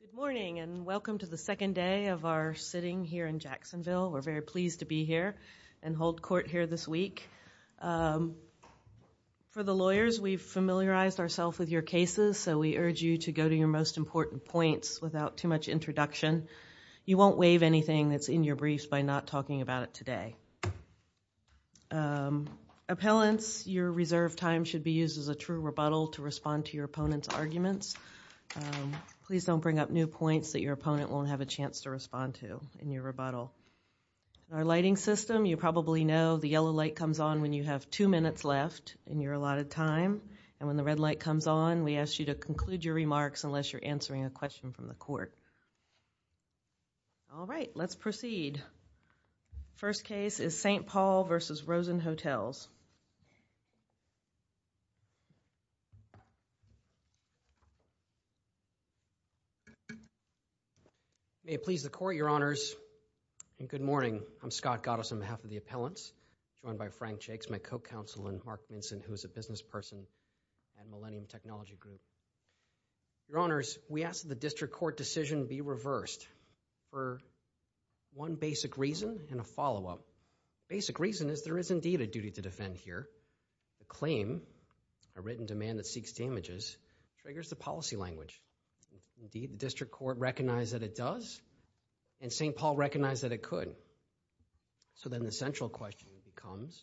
Good morning and welcome to the second day of our sitting here in Jacksonville. We're very pleased to be here and hold court here this week. For the lawyers, we've familiarized ourself with your cases, so we urge you to go to your most important points without too much introduction. You won't waive anything that's in your briefs by not talking about it today. Appellants, your reserve time should be used as a true rebuttal to respond to your opponent's arguments. Please don't bring up new points that your opponent won't have a chance to respond to in your rebuttal. Our lighting system, you probably know the yellow light comes on when you have two minutes left in your allotted time, and when the red light comes on, we ask you to conclude your remarks unless you're answering a question from the court. All right, let's proceed. First case is St. Paul v. Rosen Hotels. May it please the court, your honors, and good morning. I'm Scott Goddess on behalf of the appellants, joined by Frank Jakes, my co-counsel, and Mark Minson, who is a business person at Millennium Technology Group. Your honors, we ask that the district court decision be reversed for one basic reason and a follow-up. Basic reason is there is indeed a duty to defend here. A claim, a written demand that seeks damages, triggers the policy language. Indeed, the district court recognized that it does, and St. Paul recognized that it could. So then the central question becomes,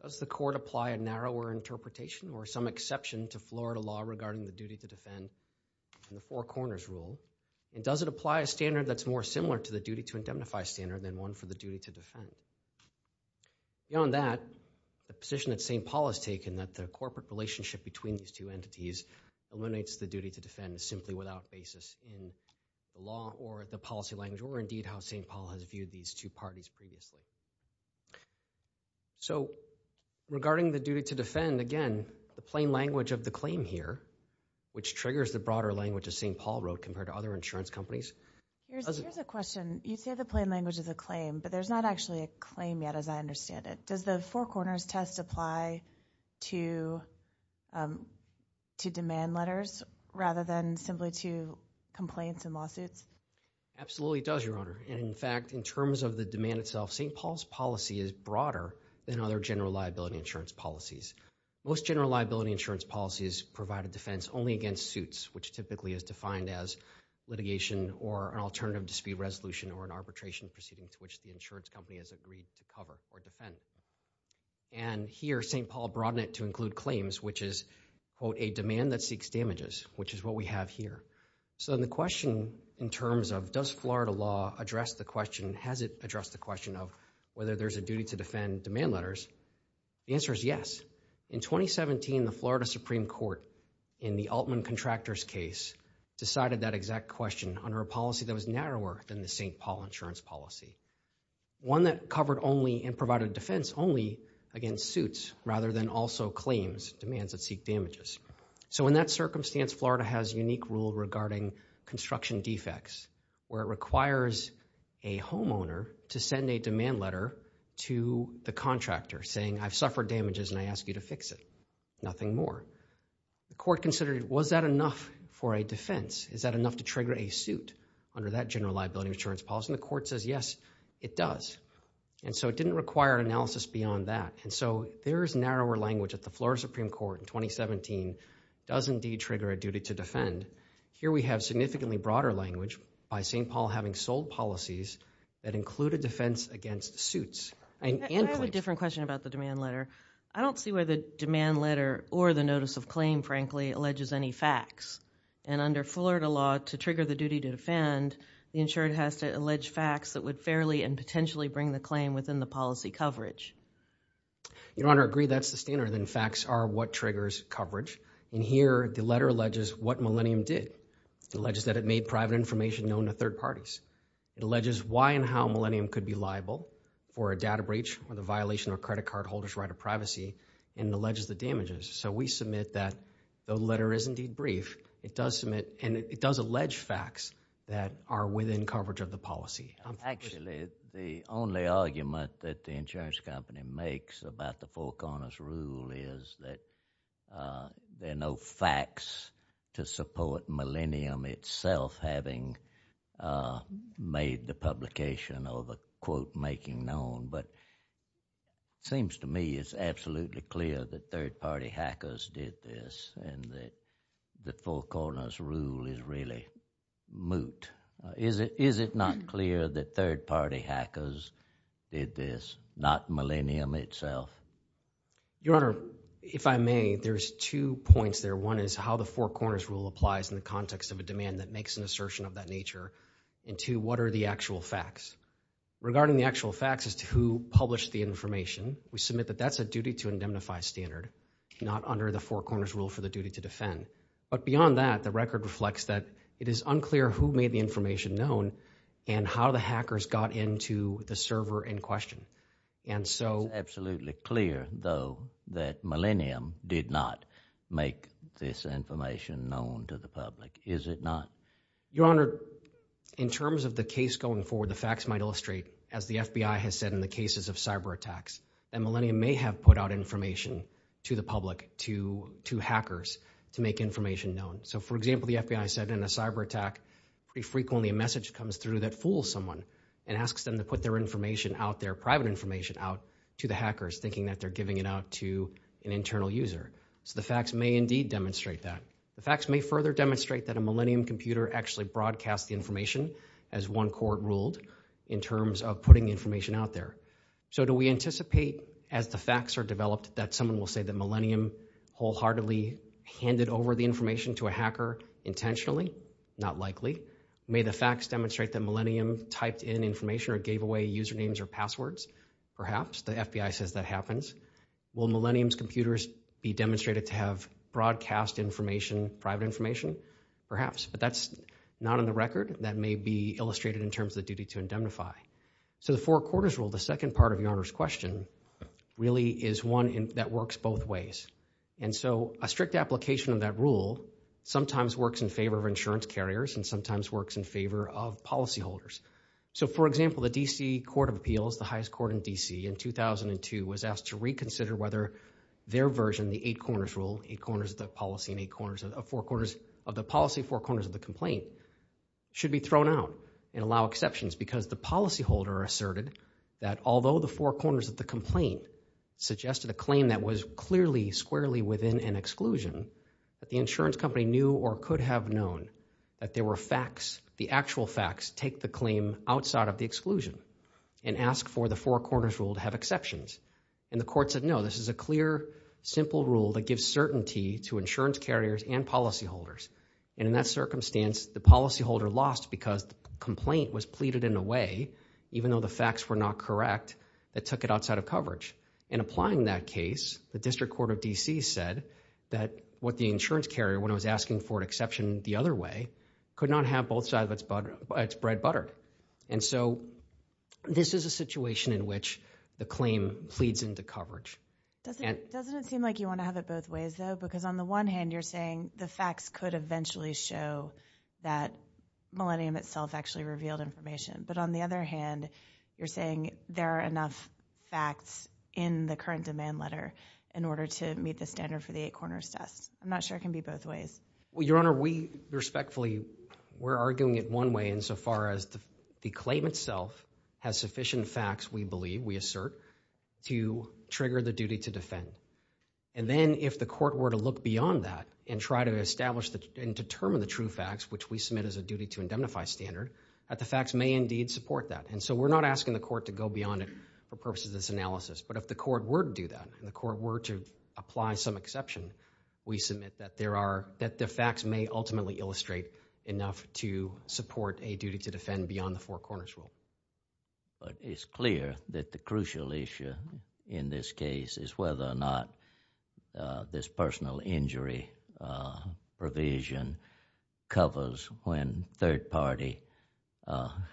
does the court apply a narrower interpretation or some exception to Florida law regarding the duty to defend in the Four Corners Rule, and does it apply a standard that's more similar to the duty to indemnify standard than one for the duty to defend? Beyond that, the position that St. Paul has taken that the corporate relationship between these two entities eliminates the duty to defend simply without basis in law or the policy language, or indeed how St. Paul has viewed these two parties previously. So regarding the duty to defend, again, the plain language of the claim here, which triggers the broader language of St. Paul Road compared to other insurance companies. Here's a question. You say the plain language is a claim, but there's not actually a claim yet as I understand it. Does the Four Corners test apply to demand letters rather than simply to complaints and lawsuits? Absolutely does, Your Honor. In fact, in terms of the demand itself, St. Paul's policy is broader than other general liability insurance policies. Most general liability insurance policies provide a defense only against suits, which typically is defined as litigation or an alternative dispute resolution or an arbitration proceeding to which the insurance company has agreed to cover or broaden it to include claims, which is, quote, a demand that seeks damages, which is what we have here. So the question in terms of does Florida law address the question, has it addressed the question of whether there's a duty to defend demand letters? The answer is yes. In 2017, the Florida Supreme Court in the Altman Contractors case decided that exact question under a policy that was narrower than the St. Paul insurance policy. One that covered only and also claims, demands that seek damages. So in that circumstance, Florida has unique rule regarding construction defects where it requires a homeowner to send a demand letter to the contractor saying, I've suffered damages and I ask you to fix it. Nothing more. The court considered, was that enough for a defense? Is that enough to trigger a suit under that general liability insurance policy? The court says yes, it does. And so it didn't require analysis beyond that. And so there is narrower language that the Florida Supreme Court in 2017 does indeed trigger a duty to defend. Here we have significantly broader language by St. Paul having sold policies that include a defense against suits. I have a different question about the demand letter. I don't see where the demand letter or the notice of claim, frankly, alleges any facts. And under Florida law, to trigger the duty to defend, the insurer has to allege facts that would fairly and potentially bring the claim within the policy coverage. Your Honor, I agree that's the standard and facts are what triggers coverage. And here the letter alleges what Millennium did. It alleges that it made private information known to third parties. It alleges why and how Millennium could be liable for a data breach or the violation of a credit card holder's right of privacy and alleges the damages. So we submit that the letter is indeed brief. It does submit and it does allege facts that are within coverage of the policy. Actually, the only argument that the insurance company makes about the Four Corners rule is that there are no facts to support Millennium itself having made the publication of a quote making known. But it seems to me it's absolutely clear that third-party hackers did this and that the Four Corners rule applies in the context of a demand that makes an assertion of that nature into what are the actual facts. Regarding the actual facts as to who published the information, we submit that that's a duty to indemnify standard, not under the Four Corners rule for the duty to defend. But beyond that, the record is that the hackers got into the server in question. And so it's absolutely clear though that Millennium did not make this information known to the public, is it not? Your Honor, in terms of the case going forward, the facts might illustrate as the FBI has said in the cases of cyber attacks, that Millennium may have put out information to the public, to hackers, to make information known. So for example, the FBI said in a cyber attack pretty frequently a message comes through that fools someone and asks them to put their information out, their private information out, to the hackers thinking that they're giving it out to an internal user. So the facts may indeed demonstrate that. The facts may further demonstrate that a Millennium computer actually broadcast the information, as one court ruled, in terms of putting information out there. So do we anticipate as the facts are developed that someone will say that Millennium wholeheartedly handed over the information to a hacker intentionally? Not likely. May the facts demonstrate that Millennium typed in information or gave away usernames or passwords? Perhaps. The FBI says that happens. Will Millennium's computers be demonstrated to have broadcast information, private information? Perhaps. But that's not on the record. That may be illustrated in terms of the duty to indemnify. So the Four Quarters Rule, the second part of Your Honor's question, really is one that works both ways. And so a strict application of that rule sometimes works in favor of insurance carriers and sometimes works in favor of policyholders. So for example, the DC Court of Appeals, the highest court in DC, in 2002 was asked to reconsider whether their version, the Eight Corners Rule, eight corners of the policy and eight corners of the policy, four corners of the complaint, should be thrown out and allow exceptions. Because the policyholder asserted that although the four corners of the complaint suggested a claim that was clearly squarely within an exclusion, that the insurance company knew or could have known that there were facts, the actual facts, take the claim outside of the exclusion and ask for the four corners rule to have exceptions. And the court said no, this is a clear, simple rule that gives certainty to insurance carriers and policyholders. And in that circumstance, the policyholder lost because the complaint was pleaded in a way, even though the facts were not correct, that took it outside of coverage. In applying that case, the District Court of DC said that what the insurance carrier, when I was asking for an exception the other way, could not have both sides of its bread buttered. And so this is a situation in which the claim pleads into coverage. Doesn't it seem like you want to have it both ways though? Because on the one hand, you're saying the facts could eventually show that Millennium itself actually revealed information. But on the other hand, you're saying there are enough facts in the current demand letter in order to meet the standard for the eight corners test. I'm not sure it can be both ways. Well, Your Honor, we respectfully, we're arguing it one way insofar as the claim itself has sufficient facts, we believe, we assert, to trigger the duty to defend. And then if the court were to look beyond that and try to establish and determine the true facts, which we submit as a duty to indemnify standard, that the facts may indeed support that. And so we're not asking the court to go beyond it for purposes of this analysis. But if the court were to do that, and the court were to apply some exception, we submit that there are, that the facts may ultimately illustrate enough to support a duty to defend beyond the four corners rule. But it's clear that the crucial issue in this case is whether or not this personal injury provision covers when third-party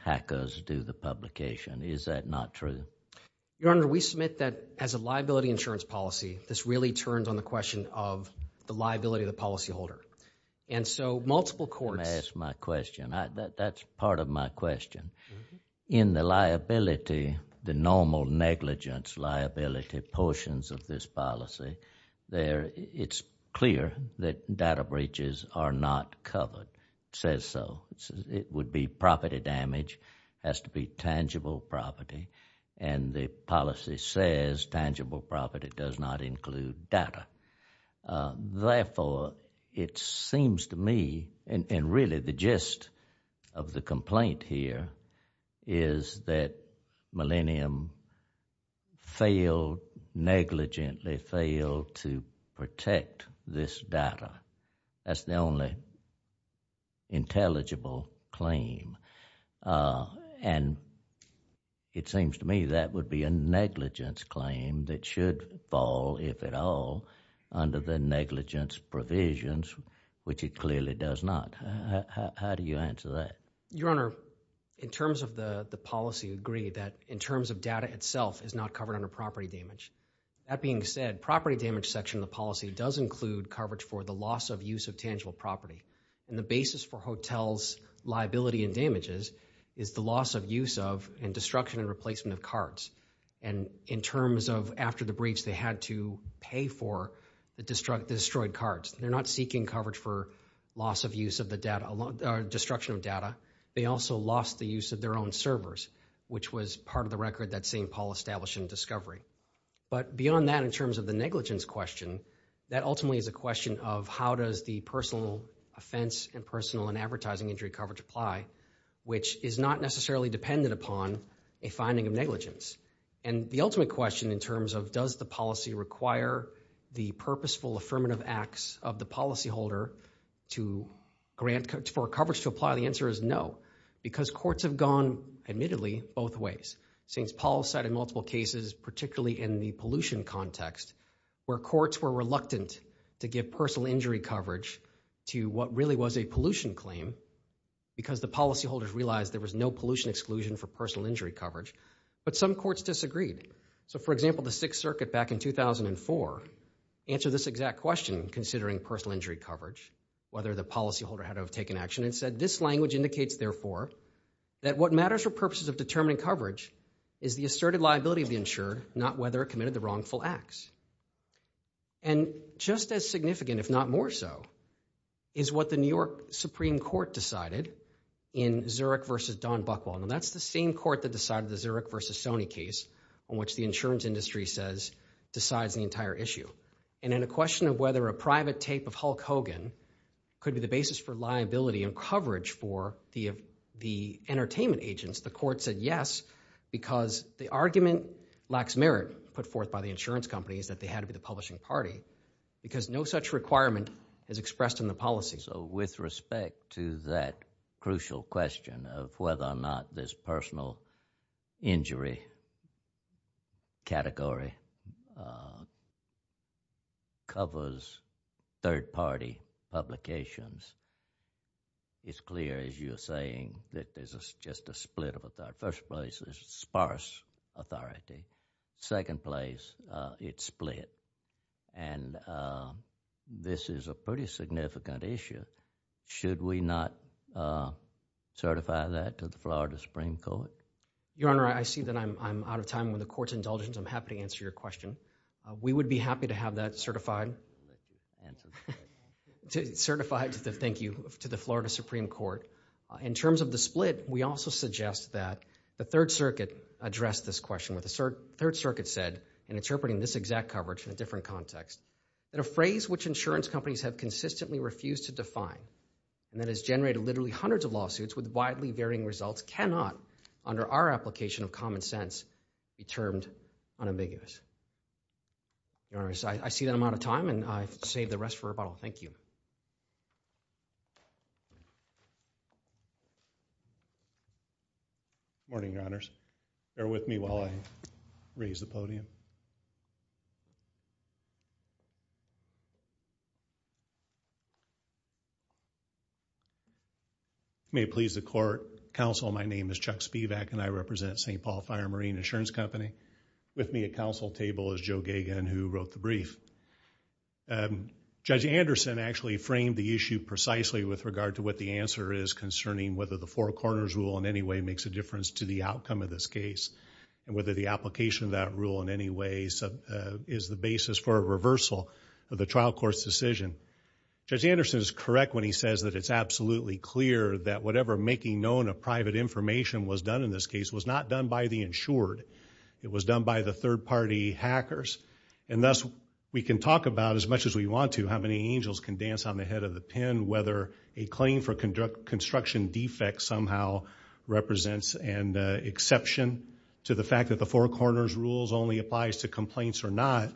hackers do the publication. Is that not true? Your Honor, we submit that as a liability insurance policy, this really turns on the question of the liability of the policyholder. And so multiple courts... Let me ask my question. That's part of my question. In the liability, the normal negligence liability portions of this covered says so. It would be property damage, has to be tangible property. And the policy says tangible property does not include data. Therefore, it seems to me, and really the gist of the complaint here, is that Millennium failed, negligently failed to protect this data. That's the only intelligible claim. And it seems to me that would be a negligence claim that should fall, if at all, under the negligence provisions, which it clearly does not. How do you answer that? Your Honor, in terms of the policy, we agree that in terms of data itself is not covered under property damage. That being said, property damage section of the policy does include coverage for the loss of use of tangible property. And the basis for hotels liability and damages is the loss of use of and destruction and replacement of cards. And in terms of after the breach, they had to pay for the destroyed cards. They're not seeking coverage for loss of use of the data, destruction of data. They also lost the use of their own servers, which was part of the record that St. Paul established in discovery. But beyond that, in terms of the how does the personal offense and personal and advertising injury coverage apply, which is not necessarily dependent upon a finding of negligence. And the ultimate question in terms of does the policy require the purposeful affirmative acts of the policyholder to grant for coverage to apply, the answer is no. Because courts have gone, admittedly, both ways. Since Paul cited multiple cases, particularly in the pollution context, where courts were reluctant to give personal injury coverage to what really was a pollution claim because the policyholders realized there was no pollution exclusion for personal injury coverage. But some courts disagreed. So, for example, the Sixth Circuit back in 2004 answered this exact question, considering personal injury coverage, whether the policyholder had to have taken action and said, this language indicates, therefore, that what matters for purposes of determining coverage is the asserted liability of the insured, not whether it committed the wrongful acts. And just as significant, if not more so, is what the New York Supreme Court decided in Zurich versus Don Buchwald. And that's the same court that decided the Zurich versus Sony case on which the insurance industry says decides the entire issue. And in a question of whether a private tape of Hulk Hogan could be the basis for liability and coverage for the entertainment agents, the court said yes, because the argument lacks merit put against companies that they had to be the publishing party, because no such requirement is expressed in the policy. So, with respect to that crucial question of whether or not this personal injury category covers third-party publications, it's clear, as you're saying, that there's just a split of First place is sparse authority. Second place, it's split. And this is a pretty significant issue. Should we not certify that to the Florida Supreme Court? Your Honor, I see that I'm out of time. With the Court's indulgence, I'm happy to answer your question. We would be happy to have that certified to the Florida Supreme Court. In terms of the split, we also suggest that the Third Circuit addressed this question. The Third Circuit said, in interpreting this exact coverage in a different context, that a phrase which insurance companies have consistently refused to define, and that has generated literally hundreds of lawsuits with widely varying results, cannot, under our application of common sense, be termed unambiguous. Your Honor, I see that I'm out of time and I save the rest for rebuttal. Thank you. Good morning, Your Honors. Bear with me while I raise the podium. May it please the Court, Counsel, my name is Chuck Spivak and I represent St. Paul Fire and Marine Insurance Company. With me at counsel table is Joe Gagan, who wrote the brief. Judge Anderson actually framed the issue precisely with regard to what the answer is concerning whether the Four Corners rule in any way makes a difference to the outcome of this case, and whether the application of that rule in any way is the basis for a reversal of the trial court's decision. Judge Anderson is correct when he says that it's absolutely clear that whatever making known of private information was done in this case was not done by the insured. It was done by the third-party hackers, and thus we can talk about, as much as we want to, how many angels can dance on the head of the pen, whether a claim for construction defects somehow represents an exception to the fact that the Four Corners rules only applies to complaints or not,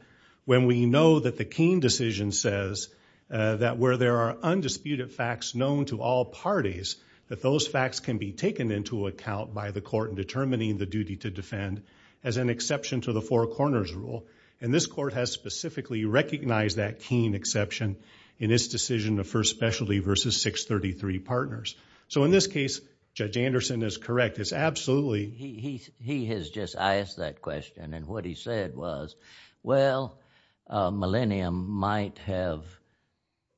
when we know that the Keene decision says that where there are undisputed facts known to all parties, that those facts can be taken into account by the court in determining the duty to defend as an exception to the Four Corners rule. And this court has specifically recognized that Keene exception in its decision of first specialty versus 633 partners. So in this case, Judge Anderson is correct. It's absolutely... He has just asked that question, and what he said was, well, Millennium might have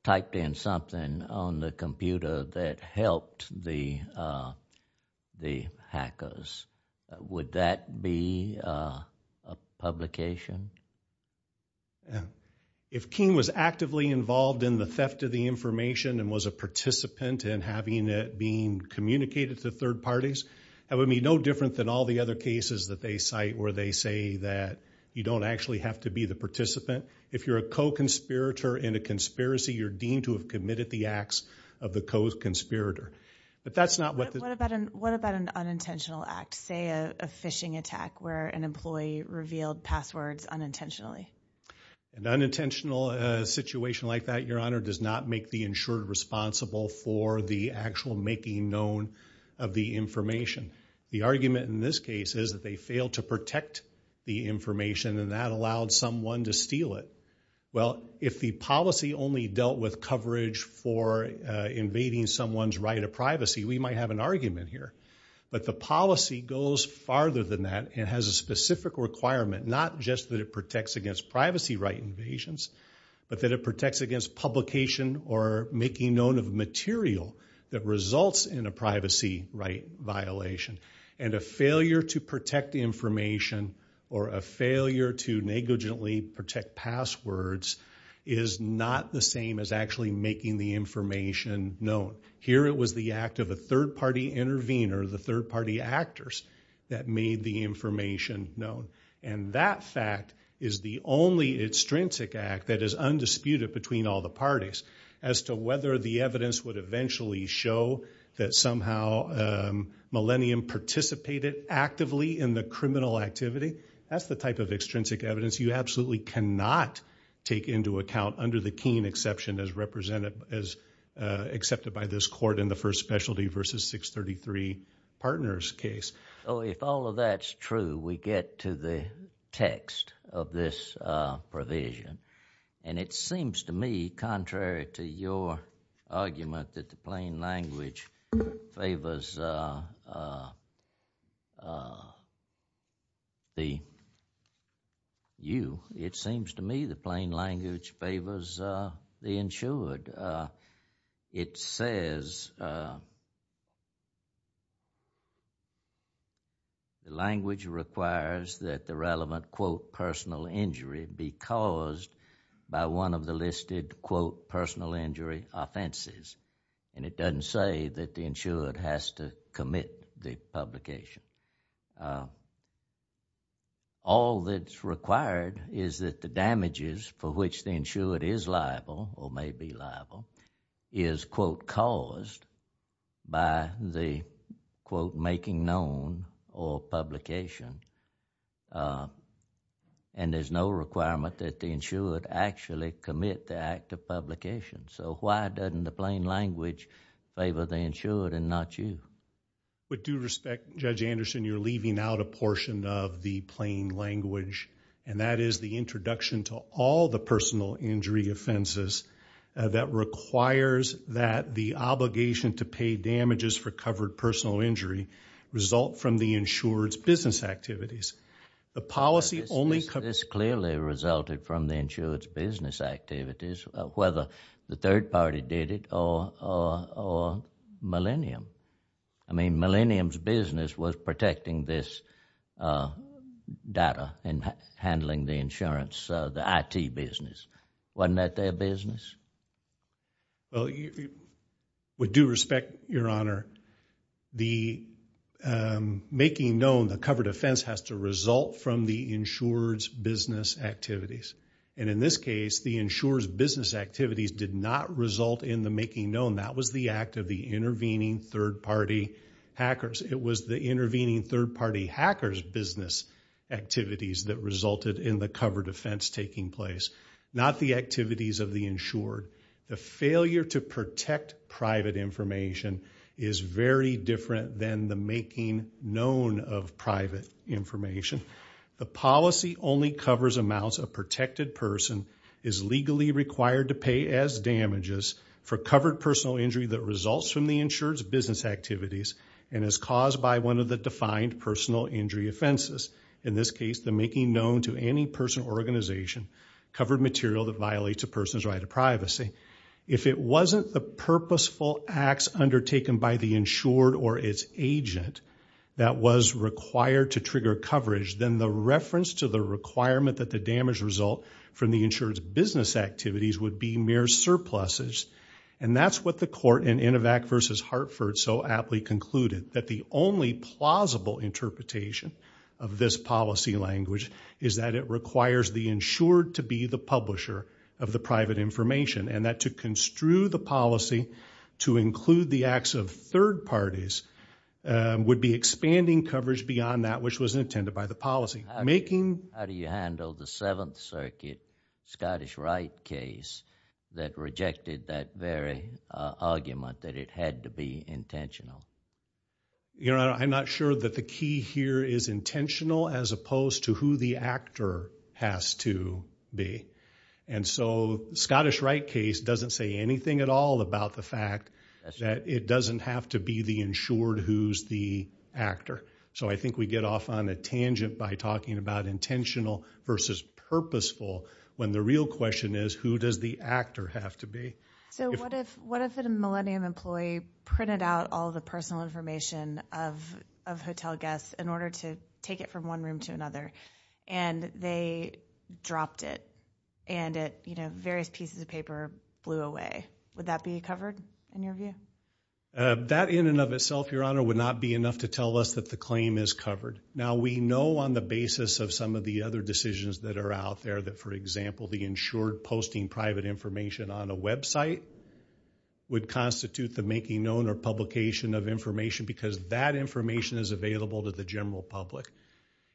typed in something on the computer that helped the hackers. Would that be a publication? If Keene was actively involved in the theft of the information and was a participant in having it being communicated to third parties, that would be no different than all the other cases that they cite where they say that you don't actually have to be the participant. If you're a co-conspirator in a conspiracy, you're deemed to have committed the acts of the co-conspirator. But that's not what... What about an unintentional act, say a phishing attack where an unintentional situation like that, Your Honor, does not make the insured responsible for the actual making known of the information? The argument in this case is that they failed to protect the information and that allowed someone to steal it. Well, if the policy only dealt with coverage for invading someone's right of privacy, we might have an argument here. But the policy goes farther than that and has a specific requirement, not just that it protects against privacy right invasions, but that it protects against publication or making known of material that results in a privacy right violation. And a failure to protect information or a failure to negligently protect passwords is not the same as actually making the information known. Here it was the act of a third party actors that made the information known. And that fact is the only extrinsic act that is undisputed between all the parties as to whether the evidence would eventually show that somehow Millennium participated actively in the criminal activity. That's the type of extrinsic evidence you absolutely cannot take into account under the Keene exception as accepted by this court in the First Specialty versus 633 Partners case. Oh, if all of that's true, we get to the text of this provision. And it seems to me, contrary to your argument that the plain language favors the you, it seems to me the plain language favors the insured. It says the language requires that the relevant quote personal injury be caused by one of the listed quote personal injury offenses. And it doesn't say that the damages for which the insured is liable or may be liable is quote caused by the quote making known or publication. Uh, and there's no requirement that the insured actually commit the act of publication. So why doesn't the plain language favor the insured and not you? But do respect Judge Anderson, you're to all the personal injury offenses that requires that the obligation to pay damages for covered personal injury result from the insured's business activities. The policy only this clearly resulted from the insured's business activities, whether the third party did it or or millennium. I mean, the I. T. Business wasn't that their business? Well, we do respect your honor. The making known the covered offense has to result from the insured's business activities. And in this case, the insured's business activities did not result in the making known. That was the act of the intervening third party hackers. It was the intervening third party hackers business activities that resulted in the cover defense taking place, not the activities of the insured. The failure to protect private information is very different than the making known of private information. The policy only covers amounts of protected person is legally required to pay as damages for covered personal injury that results from the insured's business activities and is caused by one of the defined personal injury offenses. In this case, the making known to any person organization covered material that violates a person's right of privacy. If it wasn't the purposeful acts undertaken by the insured or its agent that was required to trigger coverage, then the reference to the requirement that the damage result from the insured's business activities would be mere surpluses. And that's what the counsel aptly concluded, that the only plausible interpretation of this policy language is that it requires the insured to be the publisher of the private information and that to construe the policy to include the acts of third parties would be expanding coverage beyond that which was intended by the policy. How do you handle the Seventh Circuit Scottish right case that you know I'm not sure that the key here is intentional as opposed to who the actor has to be. And so Scottish right case doesn't say anything at all about the fact that it doesn't have to be the insured who's the actor. So I think we get off on a tangent by talking about intentional versus purposeful when the real question is who does the actor have to be. So what if what if it a Millennium employee printed out all the personal information of hotel guests in order to take it from one room to another and they dropped it and it you know various pieces of paper blew away. Would that be covered in your view? That in and of itself your honor would not be enough to tell us that the claim is covered. Now we know on the basis of some of the other decisions that are out there that for example the insured posting private information on a website would constitute the making known or publication of information because that information is available to the general public.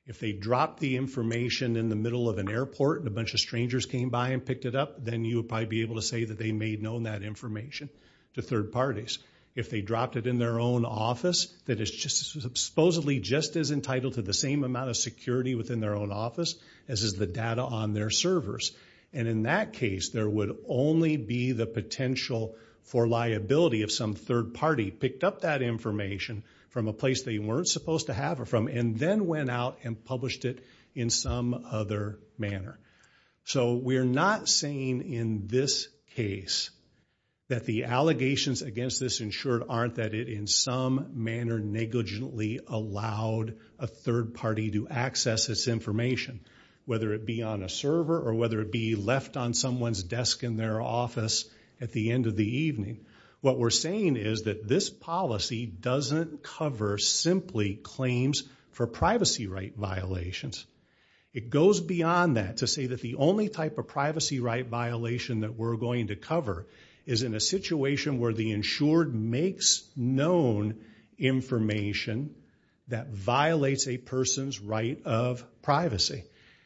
If they drop the information in the middle of an airport and a bunch of strangers came by and picked it up then you would probably be able to say that they made known that information to third parties. If they dropped it in their own office that is just supposedly just as entitled to the same amount of security within their own office as is the data on their servers. And in that case there would only be the potential for liability of some third party picked up that information from a place they weren't supposed to have or from and then went out and published it in some other manner. So we're not saying in this case that the allegations against this insured aren't that it in some manner negligently allowed a third party to access this information. Whether it be on a server or whether it be left on at the end of the evening. What we're saying is that this policy doesn't cover simply claims for privacy right violations. It goes beyond that to say that the only type of privacy right violation that we're going to cover is in a situation where the insured makes known information that violates a person's right of privacy.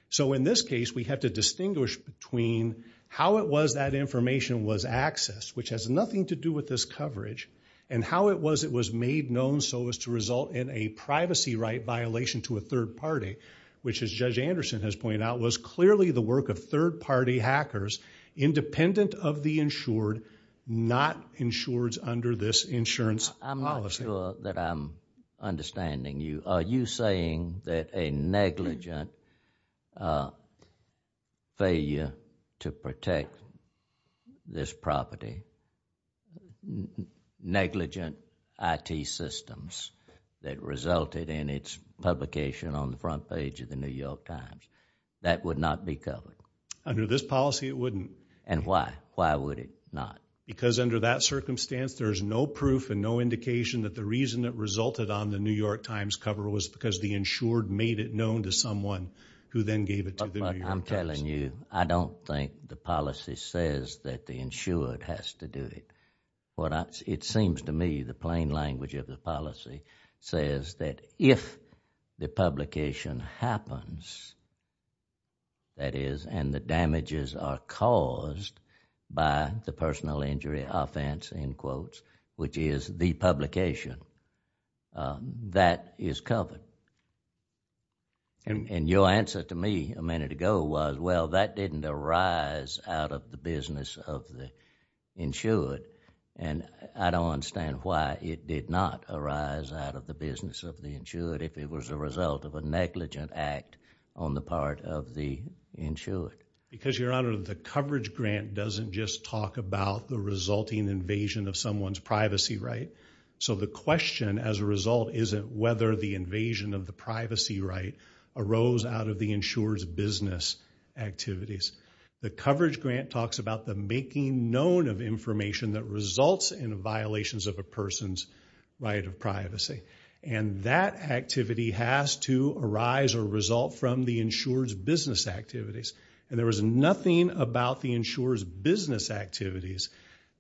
So in this case we have to distinguish between how it was that information was accessed, which has nothing to do with this coverage, and how it was it was made known so as to result in a privacy right violation to a third party, which as Judge Anderson has pointed out was clearly the work of third party hackers independent of the insured, not insured under this insurance policy. I'm not sure that I'm understanding you. Are you saying that a this property, negligent IT systems that resulted in its publication on the front page of the New York Times, that would not be covered? Under this policy it wouldn't. And why? Why would it not? Because under that circumstance there's no proof and no indication that the reason that resulted on the New York Times cover was because the insured made it known to someone who then gave it to the public. The policy says that the insured has to do it. It seems to me the plain language of the policy says that if the publication happens, that is, and the damages are caused by the personal injury offense, in quotes, which is the publication, that is covered. And your answer to me a minute ago was, well that didn't arise out of the business of the insured. And I don't understand why it did not arise out of the business of the insured if it was a result of a negligent act on the part of the insured. Because your honor, the coverage grant doesn't just talk about the resulting invasion of someone's privacy right. So the question as a result isn't whether the invasion of the privacy right arose out of the insured's business activities. The coverage grant talks about the making known of information that results in violations of a person's right of privacy. And that activity has to arise or result from the insured's business activities. And there was nothing about the insured's business activities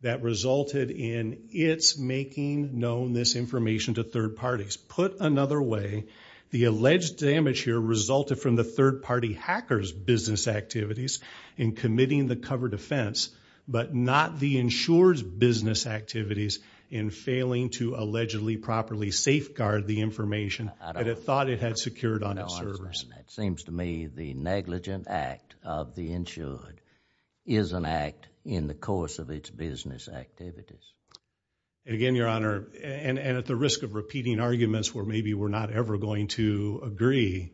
that resulted in its making known this information to third parties. Put another way, the alleged damage here resulted from the third-party hackers business activities in committing the cover defense, but not the insured's business activities in failing to allegedly properly safeguard the information that it thought it had secured on its servers. It seems to me the negligent act of the insured is an act in the course of its business activities. Again your honor, and I'm not ever going to agree,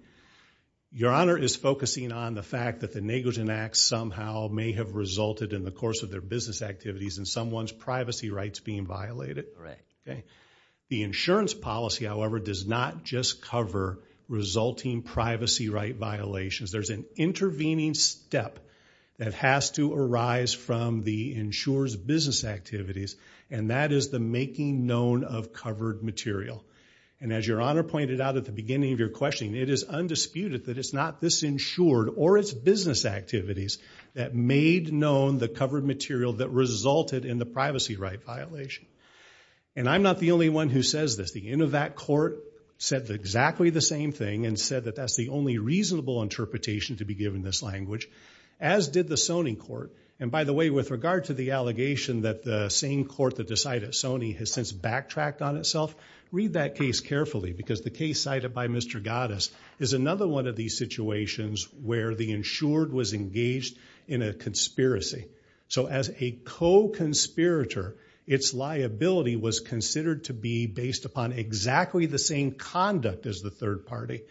your honor is focusing on the fact that the negligent act somehow may have resulted in the course of their business activities and someone's privacy rights being violated. The insurance policy however does not just cover resulting privacy right violations. There's an intervening step that has to arise from the insured's business activities and that is the out at the beginning of your question. It is undisputed that it's not this insured or its business activities that made known the covered material that resulted in the privacy right violation. And I'm not the only one who says this. The end of that court said exactly the same thing and said that that's the only reasonable interpretation to be given this language, as did the Sony court. And by the way, with regard to the allegation that the same court that decided Sony has since backtracked on itself, read that case carefully because the case cited by Mr. Gattas is another one of these situations where the insured was engaged in a conspiracy. So as a co-conspirator, its liability was considered to be based upon exactly the same conduct as the third party.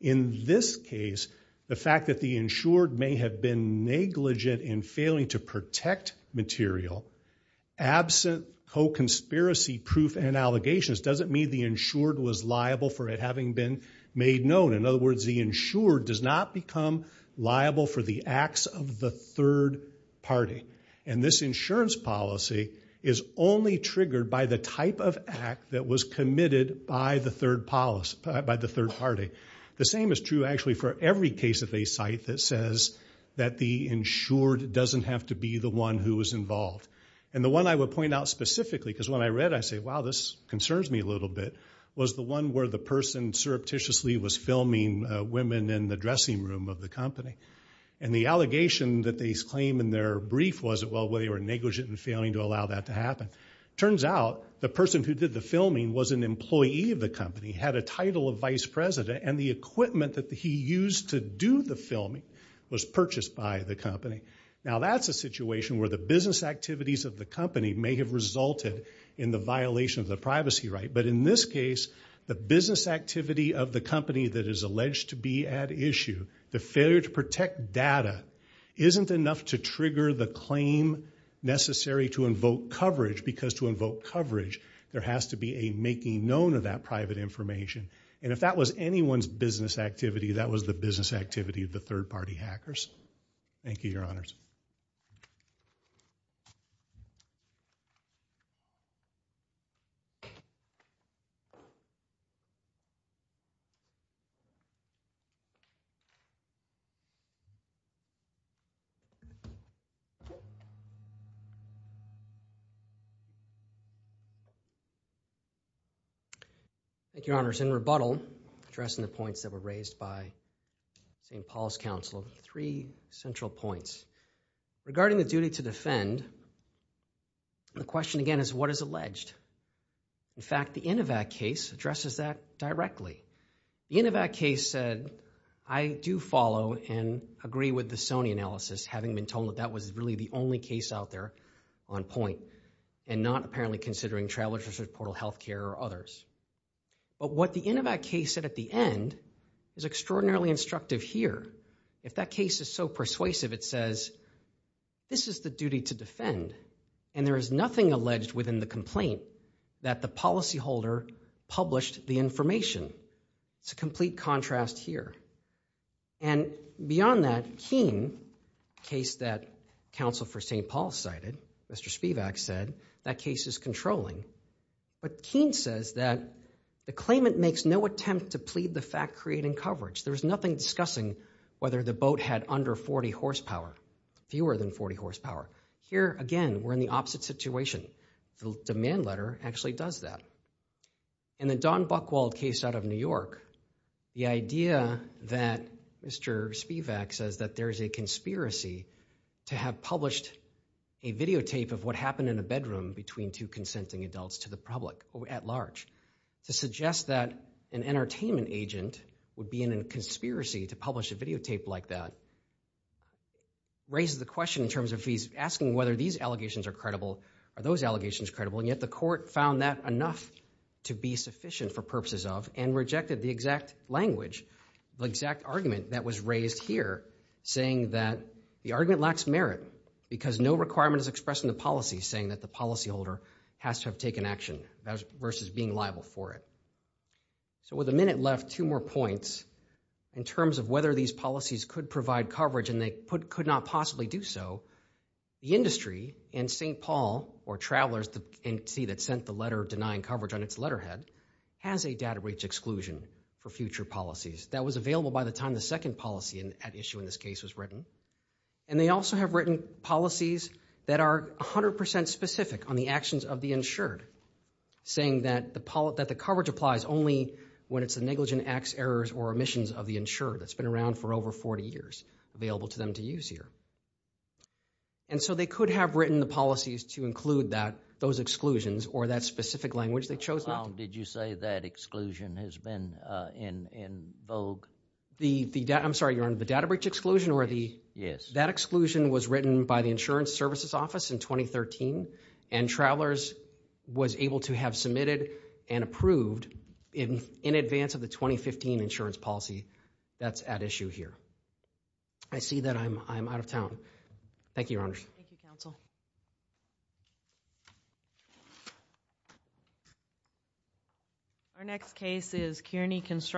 In this case, the fact that the insured may have been negligent in failing to protect material, absent co-conspiracy proof and allegations doesn't mean the insured was liable for it having been made known. In other words, the insured does not become liable for the acts of the third party. And this insurance policy is only triggered by the type of act that was committed by the third policy, by the third party. The same is true actually for every case of a site that says that the insured doesn't have to be the one who was involved. And the one I would point out specifically, because when I read, I say, wow, this concerns me a little bit, was the one where the person surreptitiously was filming women in the dressing room of the company. And the allegation that they claim in their brief was, well, they were negligent in failing to allow that to happen. Turns out, the person who did the filming was an employee of the company, had a title of vice president and the equipment that he used to do the filming was purchased by the company. Now that's a situation where the business activities of the company may have resulted in the violation of the privacy right. But in this case, the business activity of the company that is alleged to be at issue, the failure to protect data, isn't enough to trigger the claim necessary to invoke coverage. Because to invoke coverage, there has to be a making known of that private information. And if that was anyone's business activity, that was the business activity of the third-party hackers. Thank you, Your Honors. Thank you, Your Honors. In rebuttal, addressing the points that were raised by St. Paul's Council, three central points. Regarding the duty to defend, the question again is, what is alleged? In fact, the Inovac case addresses that directly. The Inovac case said, I do follow and agree with the Sony analysis, having been told that that was really the only case out there on point and not apparently considering Traveler's Research Portal Healthcare or others. But what the Inovac case said at the end is extraordinarily instructive here. If that case is so persuasive, it says, this is the duty to defend and there is nothing alleged within the complaint that the policyholder published the information. It's a complete contrast here. And beyond that, Keen, a case that Council for St. Paul cited, Mr. Spivak said, that case is controlling. But Keen says that the claimant makes no attempt to plead the fact creating coverage. There's nothing discussing whether the boat had under 40 horsepower, fewer than 40 horsepower. Here again, we're in the opposite situation. The demand letter actually does that. In the Don Buchwald case out of New York, the idea that Mr. Spivak says that there's a conspiracy to have published a videotape of what happened in a bedroom between two consenting adults to the public at large, to suggest that an entertainment agent would be in a conspiracy to publish a videotape like that, raises the question in terms of he's asking whether these allegations are credible, are those allegations credible, and yet the court found that enough to be sufficient for purposes of and rejected the exact language, the exact argument that was raised here, saying that the argument lacks merit because no requirement is expressed in the policy saying that the policyholder has to have taken action versus being liable for it. So with a minute left, two more points in terms of whether these policies could provide coverage and they could not possibly do so. The industry and St. Paul or travelers that sent the letter denying coverage on its letterhead has a data breach exclusion for future policies that was available by the time the second policy at issue in this case was written, and they also have written policies that are a hundred percent specific on the actions of the insured, saying that the coverage applies only when it's a negligent acts, errors, or omissions of the insured that's been around for over 40 years available to them to use here. And so they could have written the policies to include that, those exclusions, or that specific language they chose not to. Did you say that exclusion has been in vogue? I'm sorry, Your Honor, the data breach exclusion? Yes. That exclusion was written by the Insurance Services Office in 2013, and Travelers was able to have submitted and approved in advance of the 2015 insurance policy that's at issue here. I see that I'm out of town. Thank you, Your Honors. Thank you, Counsel. Our next case is Kearney Constructions.